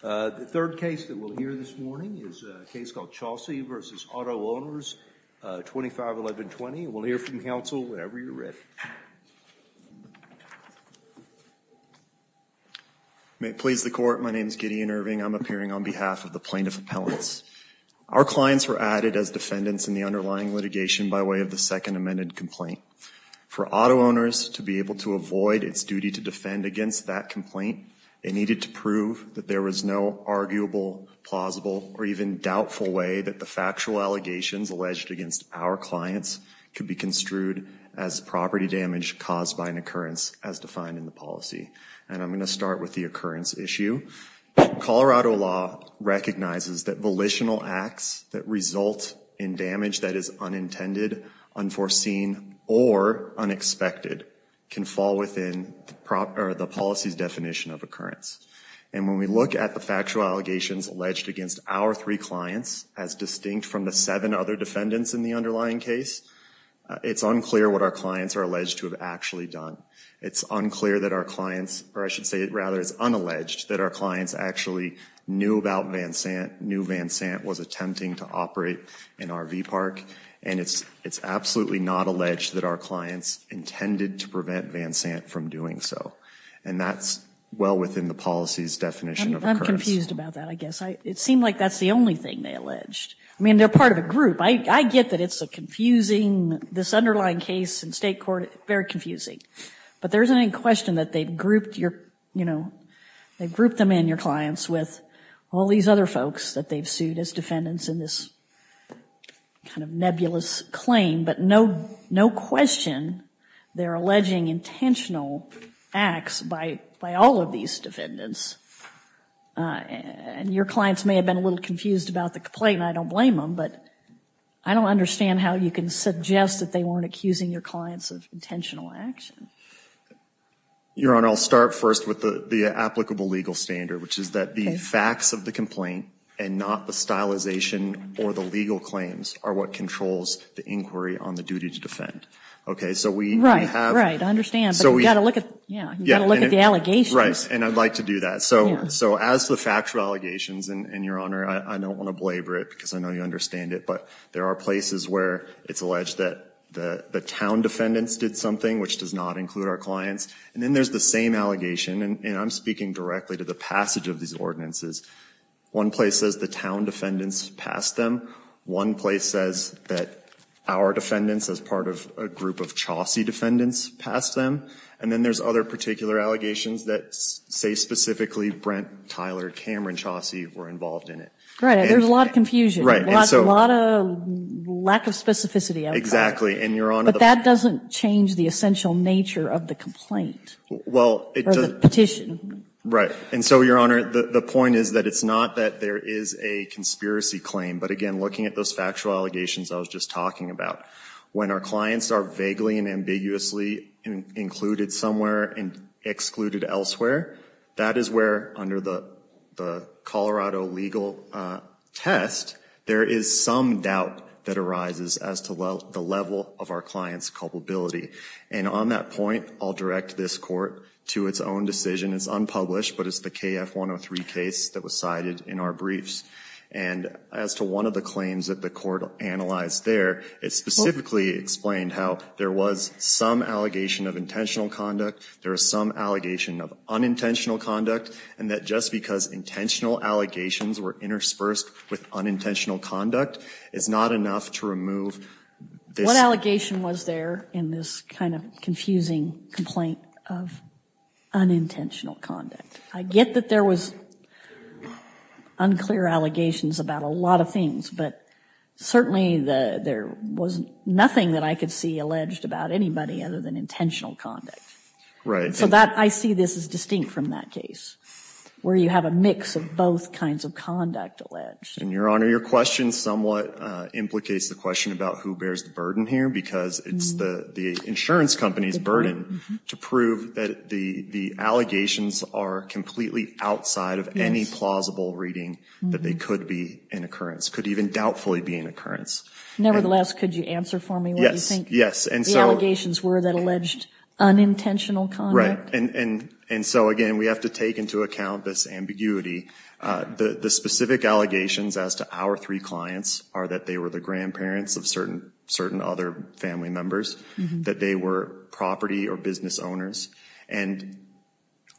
The third case that we'll hear this morning is a case called Chaussee v. Auto-Owners 251120. We'll hear from counsel whenever you're ready. May it please the Court, my name is Gideon Irving. I'm appearing on behalf of the plaintiff appellants. Our clients were added as defendants in the underlying litigation by way of the second amended complaint. For auto owners to be able to avoid its duty to defend against that complaint, they needed to prove that there was no arguable, plausible, or even doubtful way that the factual allegations alleged against our clients could be construed as property damage caused by an occurrence as defined in the policy. And I'm going to start with the occurrence issue. Colorado law recognizes that volitional acts that result in damage that is unintended, unforeseen, or unexpected can fall within the policy's definition of occurrence. And when we look at the factual allegations alleged against our three clients, as distinct from the seven other defendants in the underlying case, it's unclear what our clients are alleged to have actually done. It's unclear that our clients, or I should say rather it's unalleged, that our clients actually knew about Vansant, knew Vansant was attempting to operate an RV park. And it's absolutely not alleged that our clients intended to prevent Vansant from doing so. And that's well within the policy's definition of occurrence. I'm confused about that, I guess. It seemed like that's the only thing they alleged. I mean, they're part of a group. I get that it's a confusing, this underlying case in state court, very confusing. But there isn't any question that they've grouped your, you know, all these other folks that they've sued as defendants in this kind of nebulous claim. But no question they're alleging intentional acts by all of these defendants. And your clients may have been a little confused about the complaint, and I don't blame them, but I don't understand how you can suggest that they weren't accusing your clients of intentional action. Your Honor, I'll start first with the applicable legal standard, which is that the facts of the complaint and not the stylization or the legal claims are what controls the inquiry on the duty to defend. Right, right, I understand. But you've got to look at the allegations. Right, and I'd like to do that. So as to the factual allegations, and your Honor, I don't want to belabor it because I know you understand it, but there are places where it's alleged that the town defendants did something, which does not include our clients. And then there's the same allegation, and I'm speaking directly to the passage of these ordinances. One place says the town defendants passed them. One place says that our defendants, as part of a group of Chaucey defendants, passed them. And then there's other particular allegations that say specifically Brent, Tyler, Cameron, Chaucey were involved in it. Right, and there's a lot of confusion, a lot of lack of specificity. Exactly. But that doesn't change the essential nature of the complaint or the petition. Right, and so, your Honor, the point is that it's not that there is a conspiracy claim, but again, looking at those factual allegations I was just talking about, when our clients are vaguely and ambiguously included somewhere and excluded elsewhere, that is where, under the Colorado legal test, there is some doubt that arises as to the level of our client's culpability. And on that point, I'll direct this Court to its own decision. It's unpublished, but it's the KF103 case that was cited in our briefs. And as to one of the claims that the Court analyzed there, it specifically explained how there was some allegation of intentional conduct, there was some allegation of unintentional conduct, and that just because intentional allegations were interspersed with unintentional conduct, it's not enough to remove this. What allegation was there in this kind of confusing complaint of unintentional conduct? I get that there was unclear allegations about a lot of things, but certainly there was nothing that I could see alleged about anybody other than intentional conduct. Right. So I see this as distinct from that case, where you have a mix of both kinds of conduct alleged. And, Your Honor, your question somewhat implicates the question about who bears the burden here, because it's the insurance company's burden to prove that the allegations are completely outside of any plausible reading that they could be an occurrence, could even doubtfully be an occurrence. Nevertheless, could you answer for me what you think the allegations were that alleged unintentional conduct? Right. And so, again, we have to take into account this ambiguity. The specific allegations as to our three clients are that they were the grandparents of certain other family members, that they were property or business owners. And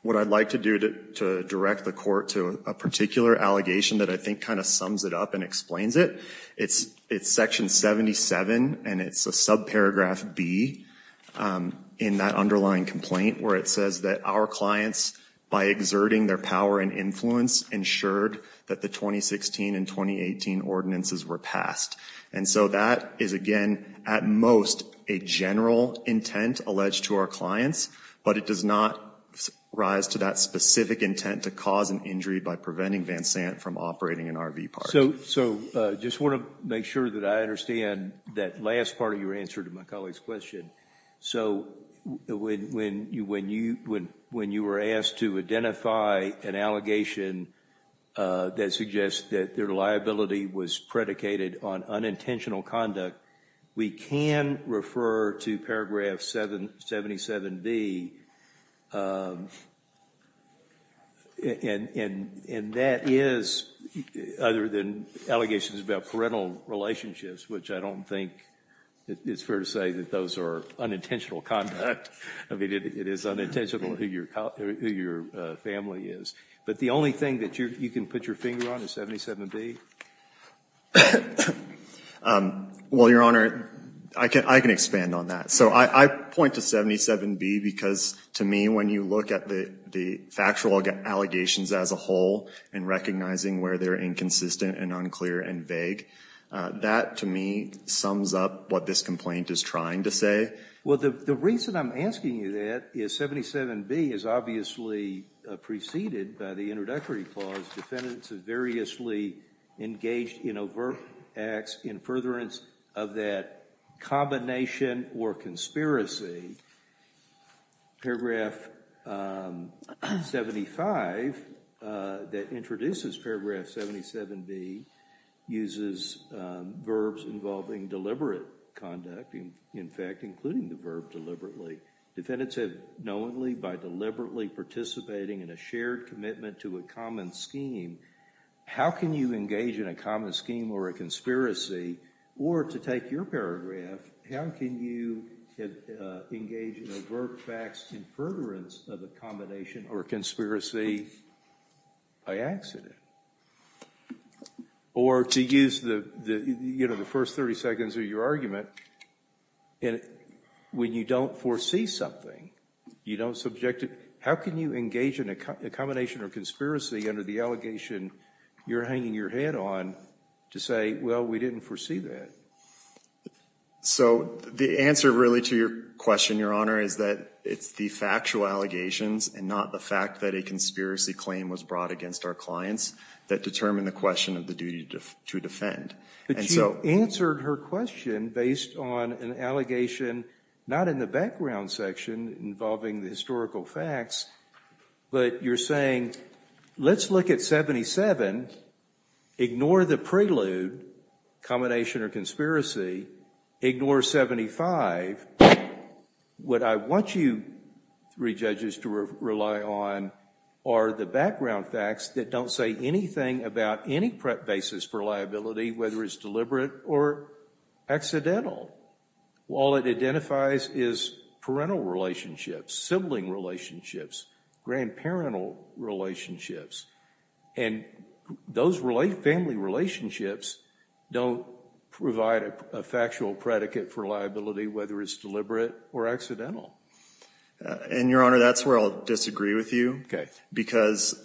what I'd like to do to direct the Court to a particular allegation that I think kind of sums it up and explains it, it's Section 77, and it's a subparagraph B in that underlying complaint, where it says that our clients, by exerting their power and influence, ensured that the 2016 and 2018 ordinances were passed. And so that is, again, at most a general intent alleged to our clients, but it does not rise to that specific intent to cause an injury by preventing Van Sant from operating an RV park. So I just want to make sure that I understand that last part of your answer to my colleague's question. So when you were asked to identify an allegation that suggests that their liability was predicated on unintentional conduct, we can refer to paragraph 77B, and that is, other than allegations about parental relationships, which I don't think it's fair to say that those are unintentional conduct. I mean, it is unintentional who your family is. But the only thing that you can put your finger on is 77B? Well, Your Honor, I can expand on that. So I point to 77B because, to me, when you look at the factual allegations as a whole and recognizing where they're inconsistent and unclear and vague, that, to me, sums up what this complaint is trying to say. Well, the reason I'm asking you that is 77B is obviously preceded by the introductory clause, defendants have variously engaged in overt acts in furtherance of that combination or conspiracy. Paragraph 75 that introduces paragraph 77B uses verbs involving deliberate conduct, in fact, including the verb deliberately. Defendants have knowingly by deliberately participating in a shared commitment to a common scheme. How can you engage in a common scheme or a conspiracy? Or to take your paragraph, how can you engage in overt facts in furtherance of a combination or conspiracy by accident? Or to use the first 30 seconds of your argument, when you don't foresee something, you don't subject it, how can you engage in a combination or conspiracy under the allegation you're hanging your head on to say, well, we didn't foresee that? So the answer really to your question, Your Honor, is that it's the factual allegations and not the fact that a conspiracy claim was brought against our clients that determine the question of the duty to defend. But you answered her question based on an allegation not in the background section involving the historical facts, but you're saying, let's look at 77, ignore the prelude, combination or conspiracy, ignore 75. What I want you three judges to rely on are the background facts that don't say anything about any prep basis for liability, whether it's deliberate or accidental. All it identifies is parental relationships, sibling relationships, grandparental relationships. And those family relationships don't provide a factual predicate for liability, whether it's deliberate or accidental. And, Your Honor, that's where I'll disagree with you, because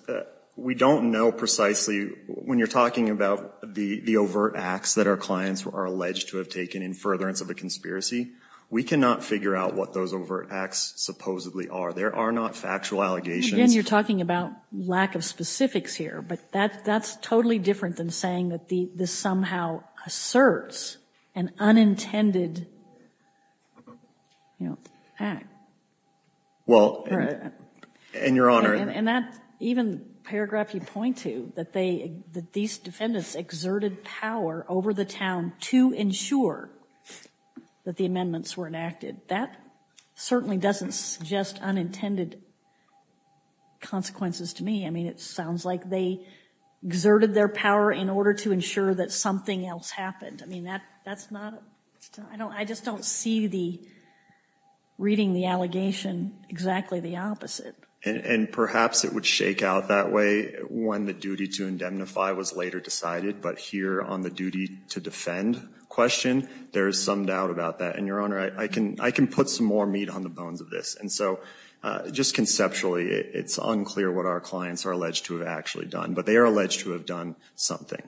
we don't know precisely, when you're talking about the overt acts that our clients are alleged to have taken in furtherance of a conspiracy, we cannot figure out what those overt acts supposedly are. There are not factual allegations. Again, you're talking about lack of specifics here. But that's totally different than saying that this somehow asserts an unintended act. Well, and, Your Honor. And that even paragraph you point to, that these defendants exerted power over the town to ensure that the amendments were enacted, that certainly doesn't suggest unintended consequences to me. I mean, it sounds like they exerted their power in order to ensure that something else happened. I mean, that's not, I just don't see reading the allegation exactly the opposite. And perhaps it would shake out that way when the duty to indemnify was later decided. But here on the duty to defend question, there is some doubt about that. And, Your Honor, I can put some more meat on the bones of this. And so, just conceptually, it's unclear what our clients are alleged to have actually done. But they are alleged to have done something.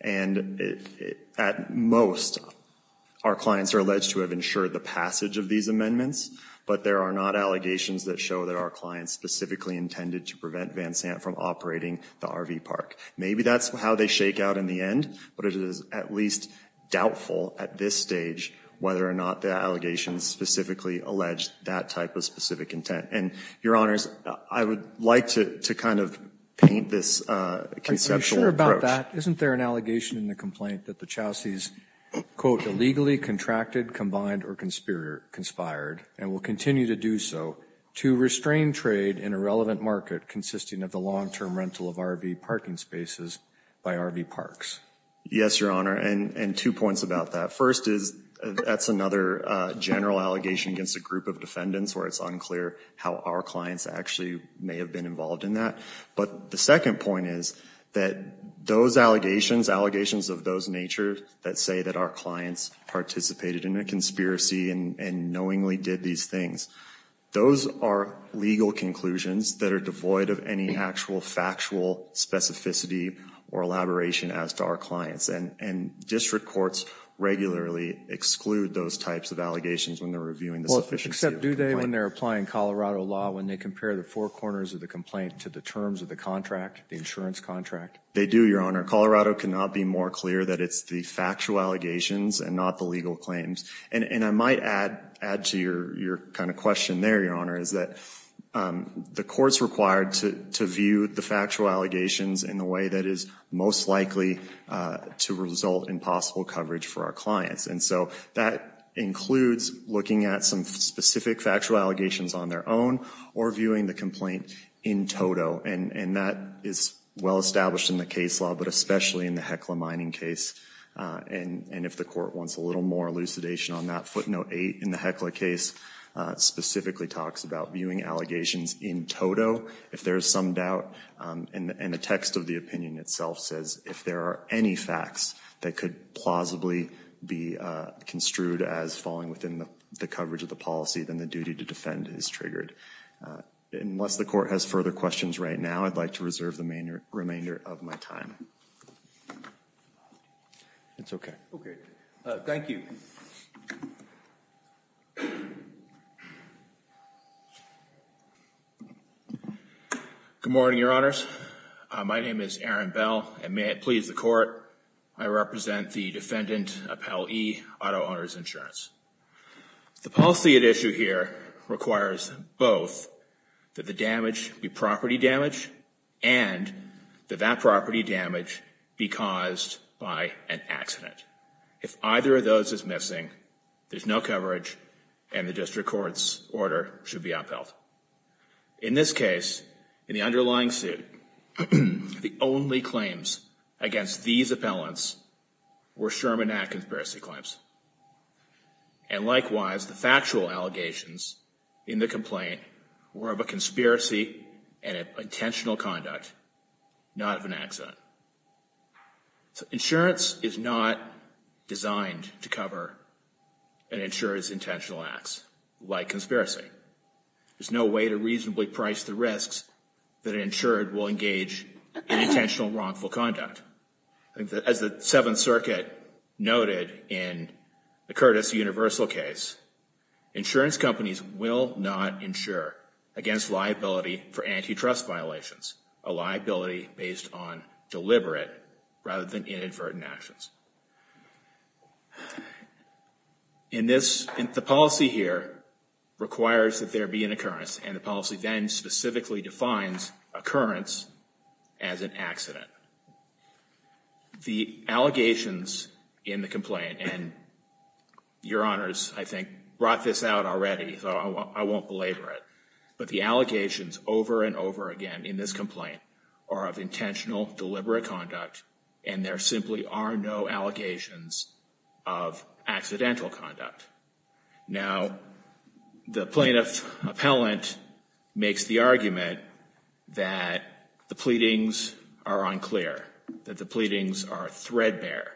And at most, our clients are alleged to have ensured the passage of these amendments. But there are not allegations that show that our clients specifically intended to prevent Van Sant from operating the RV park. Maybe that's how they shake out in the end. But it is at least doubtful at this stage whether or not the allegations specifically allege that type of specific intent. And, Your Honors, I would like to kind of paint this conceptual approach. Isn't there an allegation in the complaint that the Chaucey's, quote, illegally contracted, combined, or conspired, and will continue to do so, to restrain trade in a relevant market consisting of the long-term rental of RV parking spaces by RV parks? Yes, Your Honor. And two points about that. First is that's another general allegation against a group of defendants where it's unclear how our clients actually may have been involved in that. But the second point is that those allegations, allegations of those nature, that say that our clients participated in a conspiracy and knowingly did these things, those are legal conclusions that are devoid of any actual factual specificity or elaboration as to our clients. And district courts regularly exclude those types of allegations when they're reviewing the sufficiency of the complaint. Do they, when they're applying Colorado law, when they compare the four corners of the complaint to the terms of the contract, the insurance contract? They do, Your Honor. Colorado cannot be more clear that it's the factual allegations and not the legal claims. And I might add to your kind of question there, Your Honor, is that the courts required to view the factual allegations in the way that is most likely to result in possible coverage for our clients. And so that includes looking at some specific factual allegations on their own or viewing the complaint in toto. And that is well established in the case law, but especially in the Heckler mining case. And if the court wants a little more elucidation on that, footnote eight in the Heckler case specifically talks about viewing allegations in toto. If there is some doubt in the text of the opinion itself says if there are any facts that could plausibly be construed as falling within the coverage of the policy, then the duty to defend is triggered. Unless the court has further questions right now, I'd like to reserve the remainder of my time. It's OK. Thank you. Good morning, Your Honors. My name is Aaron Bell. And may it please the court, I represent the defendant Appellee Auto Owners Insurance. The policy at issue here requires both that the damage be property damage and that that property damage be caused by an accident. If either of those is missing, there's no coverage and the district court's order should be upheld. In this case, in the underlying suit, the only claims against these appellants were Sherman Act conspiracy claims. And likewise, the factual allegations in the complaint were of a conspiracy and intentional conduct, not of an accident. Insurance is not designed to cover an insurer's intentional acts like conspiracy. There's no way to reasonably price the risks that an insurer will engage in intentional wrongful conduct. As the Seventh Circuit noted in the Curtis Universal case, insurance companies will not insure against liability for antitrust violations, a liability based on deliberate rather than inadvertent actions. In this, the policy here requires that there be an occurrence. And the policy then specifically defines occurrence as an accident. The allegations in the complaint, and Your Honors, I think, brought this out already, so I won't belabor it. But the allegations over and over again in this complaint are of intentional, deliberate conduct. And there simply are no allegations of accidental conduct. Now, the plaintiff's appellant makes the argument that the pleadings are unclear, that the pleadings are threadbare.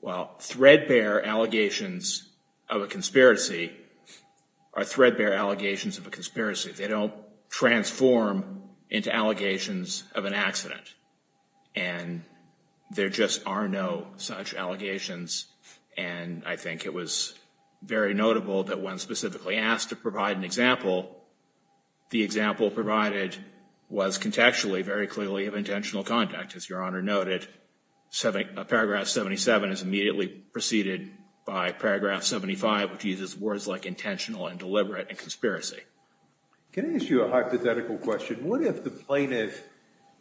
Well, threadbare allegations of a conspiracy are threadbare allegations of a conspiracy. They don't transform into allegations of an accident. And there just are no such allegations. And I think it was very notable that when specifically asked to provide an example, the example provided was contextually very clearly of intentional conduct. As Your Honor noted, Paragraph 77 is immediately preceded by Paragraph 75, which uses words like intentional and deliberate and conspiracy. Can I ask you a hypothetical question? What if the plaintiff,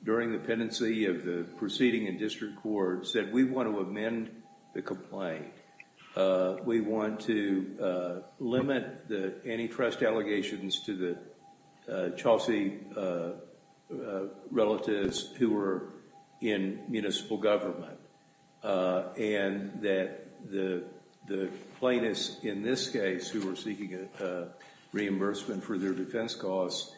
during the pendency of the proceeding in district court, said, We want to amend the complaint. We want to limit the antitrust allegations to the Chelsea relatives who were in municipal government. And that the plaintiffs in this case, who were seeking reimbursement for their defense costs,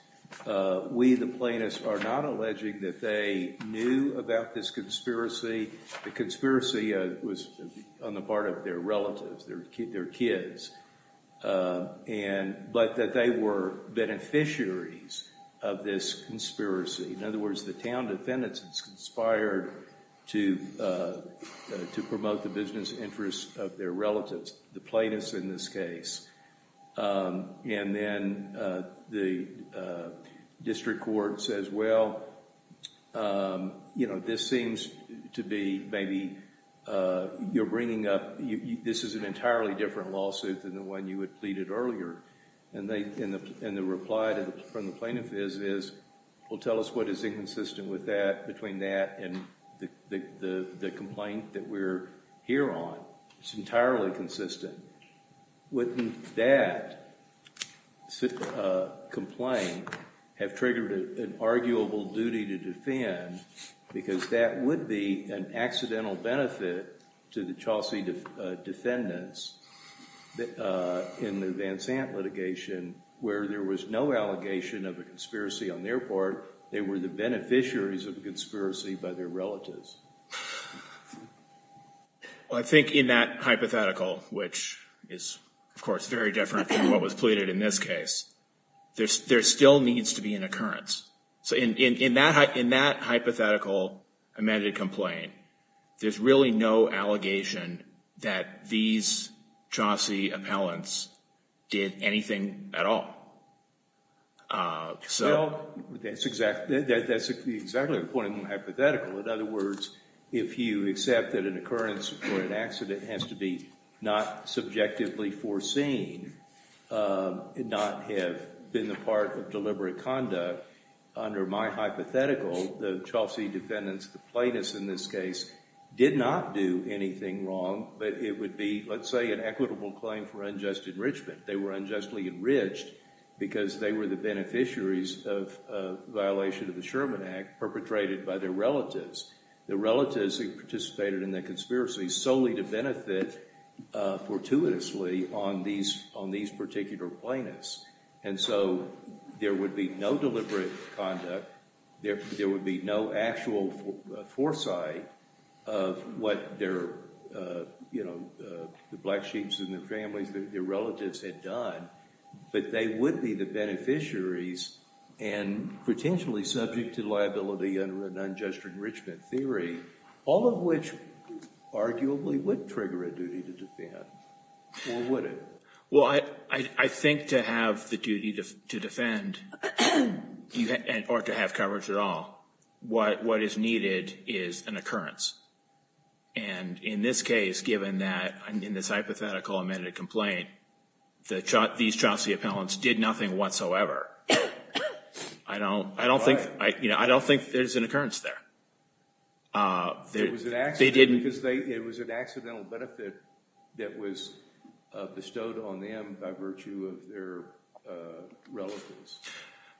we, the plaintiffs, are not alleging that they knew about this conspiracy. The conspiracy was on the part of their relatives, their kids. But that they were beneficiaries of this conspiracy. In other words, the town defendants conspired to promote the business interests of their relatives, the plaintiffs in this case. And then the district court says, Well, you know, this seems to be maybe you're bringing up, this is an entirely different lawsuit than the one you had pleaded earlier. And the reply from the plaintiff is, Well, tell us what is inconsistent with that, between that and the complaint that we're here on. It's entirely consistent. Wouldn't that complaint have triggered an arguable duty to defend? Because that would be an accidental benefit to the Chelsea defendants in the Van Sant litigation, where there was no allegation of a conspiracy on their part. They were the beneficiaries of the conspiracy by their relatives. Well, I think in that hypothetical, which is, of course, very different from what was pleaded in this case, there still needs to be an occurrence. So in that hypothetical amended complaint, there's really no allegation that these Chelsea appellants did anything at all. Well, that's exactly the point of the hypothetical. In other words, if you accept that an occurrence or an accident has to be not subjectively foreseen, and not have been the part of deliberate conduct, under my hypothetical, the Chelsea defendants, the plaintiffs in this case, did not do anything wrong. But it would be, let's say, an equitable claim for unjust enrichment. They were unjustly enriched because they were the beneficiaries of a violation of the Sherman Act, perpetrated by their relatives. Their relatives participated in the conspiracy solely to benefit fortuitously on these particular plaintiffs. And so there would be no deliberate conduct, there would be no actual foresight of what their, you know, the black sheeps and their families, their relatives had done, but they would be the beneficiaries and potentially subject to liability under an unjust enrichment theory, all of which arguably would trigger a duty to defend, or would it? Well, I think to have the duty to defend, or to have coverage at all, what is needed is an occurrence. And in this case, given that, in this hypothetical amended complaint, these Chelsea appellants did nothing whatsoever. I don't think there's an occurrence there. It was an accidental benefit that was bestowed on them by virtue of their relatives.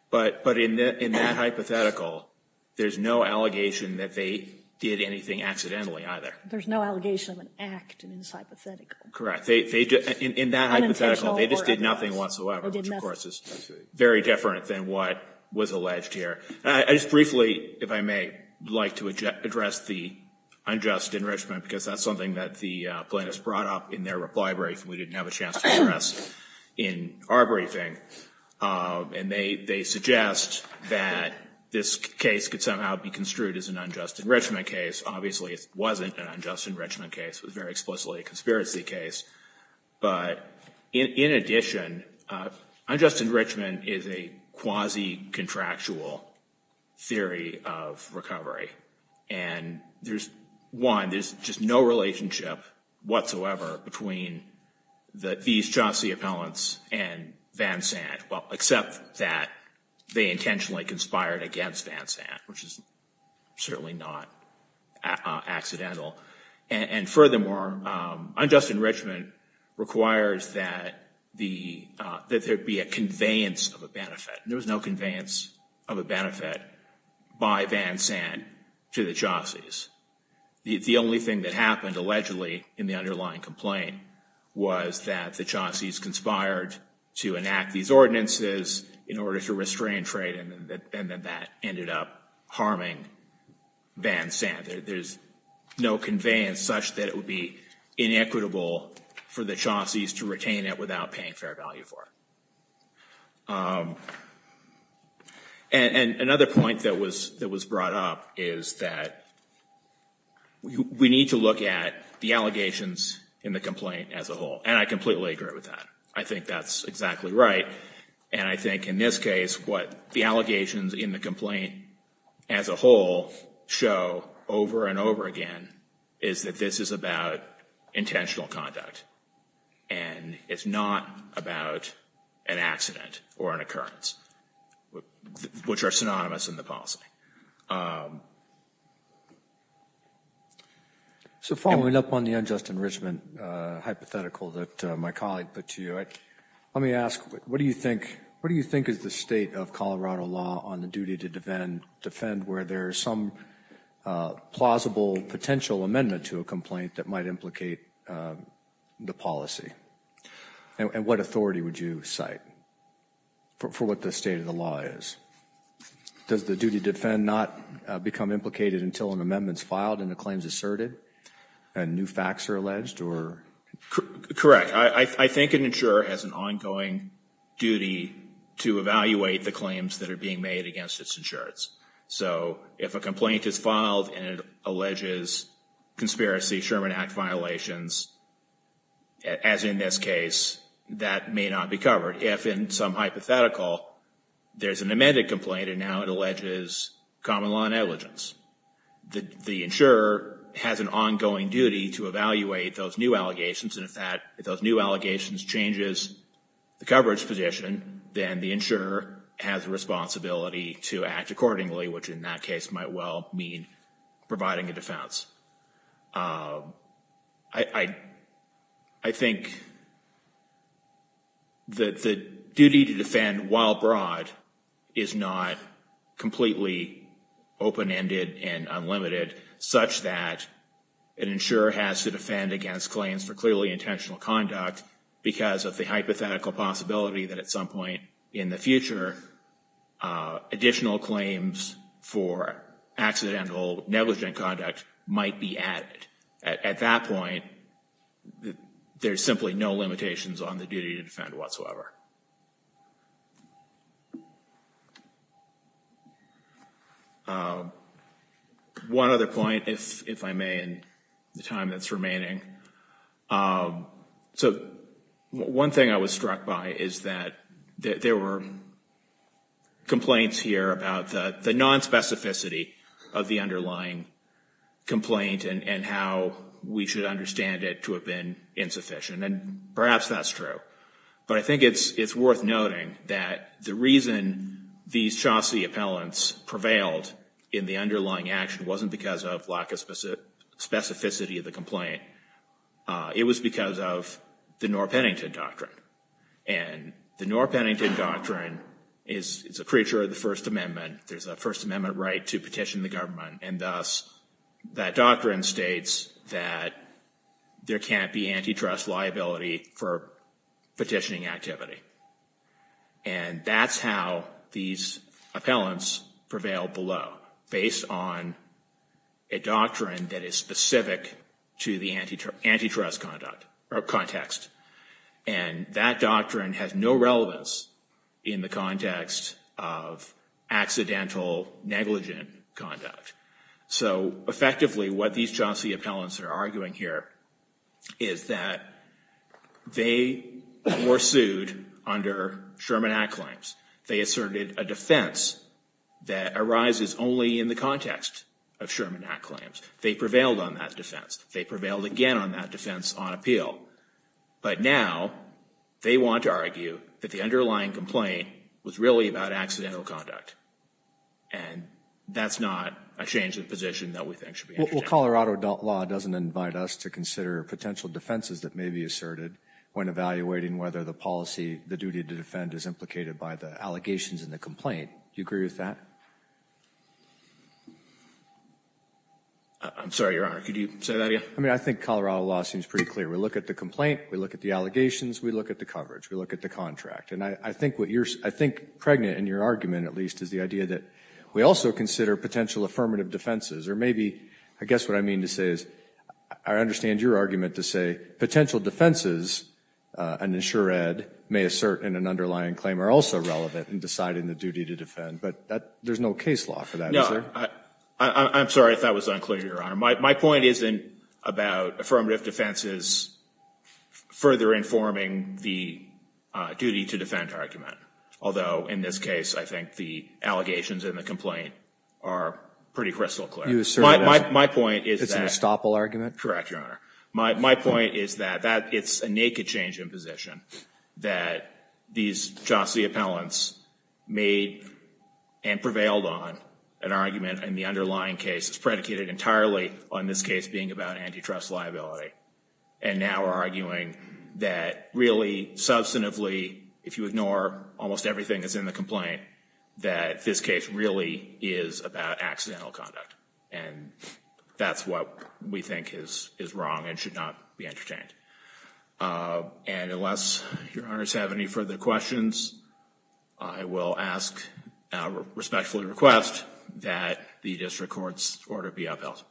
But in that hypothetical, there's no allegation that they did anything accidentally either. There's no allegation of an act in this hypothetical. Correct. In that hypothetical, they just did nothing whatsoever, which of course is very different than what was alleged here. I just briefly, if I may, would like to address the unjust enrichment, because that's something that the plaintiffs brought up in their reply brief, and we didn't have a chance to address in our briefing. And they suggest that this case could somehow be construed as an unjust enrichment case. Obviously, it wasn't an unjust enrichment case. It was very explicitly a conspiracy case. But in addition, unjust enrichment is a quasi-contractual theory of recovery. One, there's just no relationship whatsoever between these Chelsea appellants and Van Sant, except that they intentionally conspired against Van Sant, which is certainly not accidental. And furthermore, unjust enrichment requires that there be a conveyance of a benefit. There was no conveyance of a benefit by Van Sant to the Chelsea's. The only thing that happened, allegedly, in the underlying complaint, was that the Chelsea's conspired to enact these ordinances in order to restrain trade, and then that ended up harming Van Sant. There's no conveyance such that it would be inequitable for the Chelsea's to retain it without paying fair value for it. And another point that was brought up is that we need to look at the allegations in the complaint as a whole. And I completely agree with that. I think that's exactly right. And I think in this case what the allegations in the complaint as a whole show over and over again is that this is about intentional conduct, and it's not about an accident or an occurrence, which are synonymous in the policy. So following up on the unjust enrichment hypothetical that my colleague put to you, let me ask what do you think is the state of Colorado law on the duty to defend where there is some plausible potential amendment to a complaint that might implicate the policy? And what authority would you cite for what the state of the law is? Does the duty to defend not become implicated until an amendment is filed and a claim is asserted and new facts are alleged? Correct. I think an insurer has an ongoing duty to evaluate the claims that are being made against its insurers. So if a complaint is filed and it alleges conspiracy, Sherman Act violations, as in this case, that may not be covered. If in some hypothetical there's an amended complaint and now it alleges common law negligence, the insurer has an ongoing duty to evaluate those new allegations, and if those new allegations changes the coverage position, then the insurer has a responsibility to act accordingly, which in that case might well mean providing a defense. I think that the duty to defend while broad is not completely open-ended and unlimited, such that an insurer has to defend against claims for clearly intentional conduct because of the hypothetical possibility that at some point in the future, additional claims for accidental negligent conduct might be added. At that point, there's simply no limitations on the duty to defend whatsoever. One other point, if I may, in the time that's remaining. So one thing I was struck by is that there were complaints here about the nonspecificity of the underlying complaint and how we should understand it to have been insufficient, and perhaps that's true. But I think it's worth noting that the reason these Chaucey appellants prevailed in the underlying action wasn't because of lack of specificity of the complaint. It was because of the Norr-Pennington Doctrine. And the Norr-Pennington Doctrine is a creature of the First Amendment. There's a First Amendment right to petition the government, and thus that doctrine states that there can't be antitrust liability for petitioning activity. And that's how these appellants prevailed below, based on a doctrine that is specific to the antitrust context. And that doctrine has no relevance in the context of accidental negligent conduct. So effectively, what these Chaucey appellants are arguing here is that they were sued under Sherman Act claims. They asserted a defense that arises only in the context of Sherman Act claims. They prevailed on that defense. They prevailed again on that defense on appeal. But now they want to argue that the underlying complaint was really about accidental conduct. And that's not a change of position that we think should be undertaken. Well, Colorado law doesn't invite us to consider potential defenses that may be asserted when evaluating whether the policy, the duty to defend is implicated by the allegations in the complaint. Do you agree with that? I'm sorry, Your Honor. Could you say that again? I mean, I think Colorado law seems pretty clear. We look at the complaint. We look at the allegations. We look at the coverage. We look at the contract. And I think what you're – I think pregnant in your argument, at least, is the idea that we also consider potential affirmative defenses, or maybe – I guess what I mean to say is I understand your argument to say potential defenses an insured may assert in an underlying claim are also relevant in deciding the duty to defend. But there's no case law for that, is there? I'm sorry if that was unclear, Your Honor. My point isn't about affirmative defenses further informing the duty to defend argument. Although, in this case, I think the allegations in the complaint are pretty crystal clear. My point is that – Correct, Your Honor. My point is that it's a naked change in position that these Jossie appellants made and prevailed on an argument in the underlying case. It's predicated entirely on this case being about antitrust liability. And now we're arguing that really, substantively, if you ignore almost everything that's in the complaint, that this case really is about accidental conduct. And that's what we think is wrong and should not be entertained. And unless Your Honors have any further questions, I will ask, respectfully request, that the district court's order be upheld.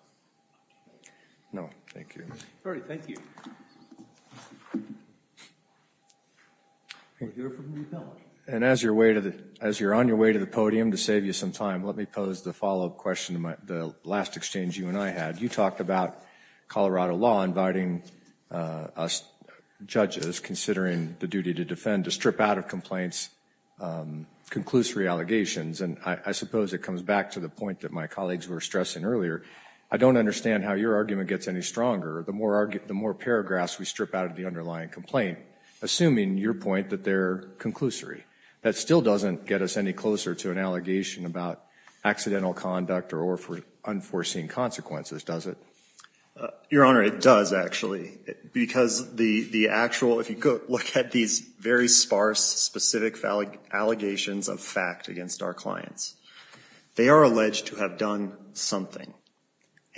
No, thank you. All right, thank you. And as you're on your way to the podium, to save you some time, let me pose the follow-up question to the last exchange you and I had. You talked about Colorado law inviting us judges, considering the duty to defend, to strip out of complaints conclusory allegations. And I suppose it comes back to the point that my colleagues were stressing earlier. I don't understand how your argument gets any stronger. The more paragraphs we strip out of the underlying complaint, assuming, your point, that they're conclusory. That still doesn't get us any closer to an allegation about accidental conduct or unforeseen consequences, does it? Your Honor, it does, actually. Because the actual, if you look at these very sparse, specific allegations of fact against our clients, they are alleged to have done something.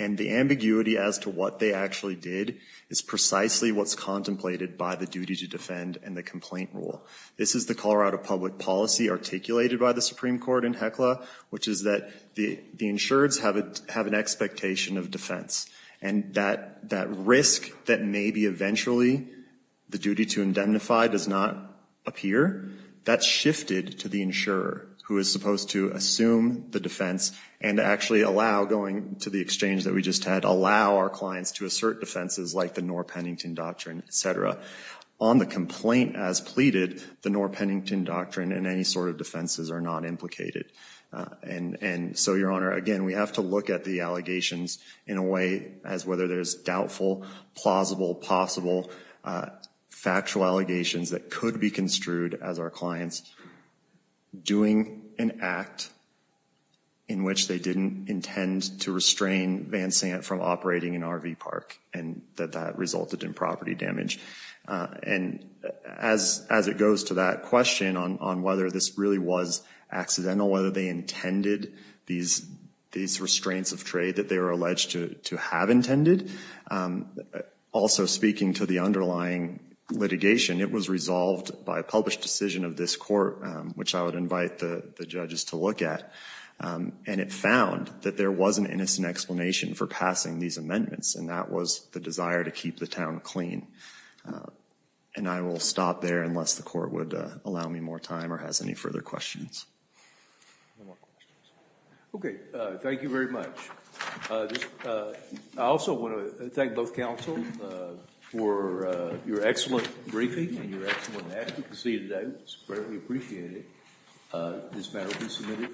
And the ambiguity as to what they actually did is precisely what's contemplated by the duty to defend and the complaint rule. This is the Colorado public policy articulated by the Supreme Court in HECLA, which is that the insureds have an expectation of defense. And that risk that maybe eventually the duty to indemnify does not appear, that's shifted to the insurer, who is supposed to assume the defense and actually allow, going to the exchange that we just had, allow our clients to assert defenses like the Knorr-Pennington Doctrine, et cetera. On the complaint as pleaded, the Knorr-Pennington Doctrine and any sort of defenses are not implicated. And so, your Honor, again, we have to look at the allegations in a way as whether there's doubtful, plausible, possible, factual allegations that could be construed as our clients doing an act in which they didn't intend to restrain Van Sant from operating an RV park and that that resulted in property damage. And as it goes to that question on whether this really was accidental, whether they intended these restraints of trade that they were alleged to have intended, also speaking to the underlying litigation, it was resolved by a published decision of this court, which I would invite the judges to look at. And it found that there was an innocent explanation for passing these amendments, and that was the desire to keep the town clean. And I will stop there unless the court would allow me more time or has any further questions. Okay. Thank you very much. I also want to thank both counsels for your excellent briefing and your excellent advocacy today. It was greatly appreciated. This matter will be submitted.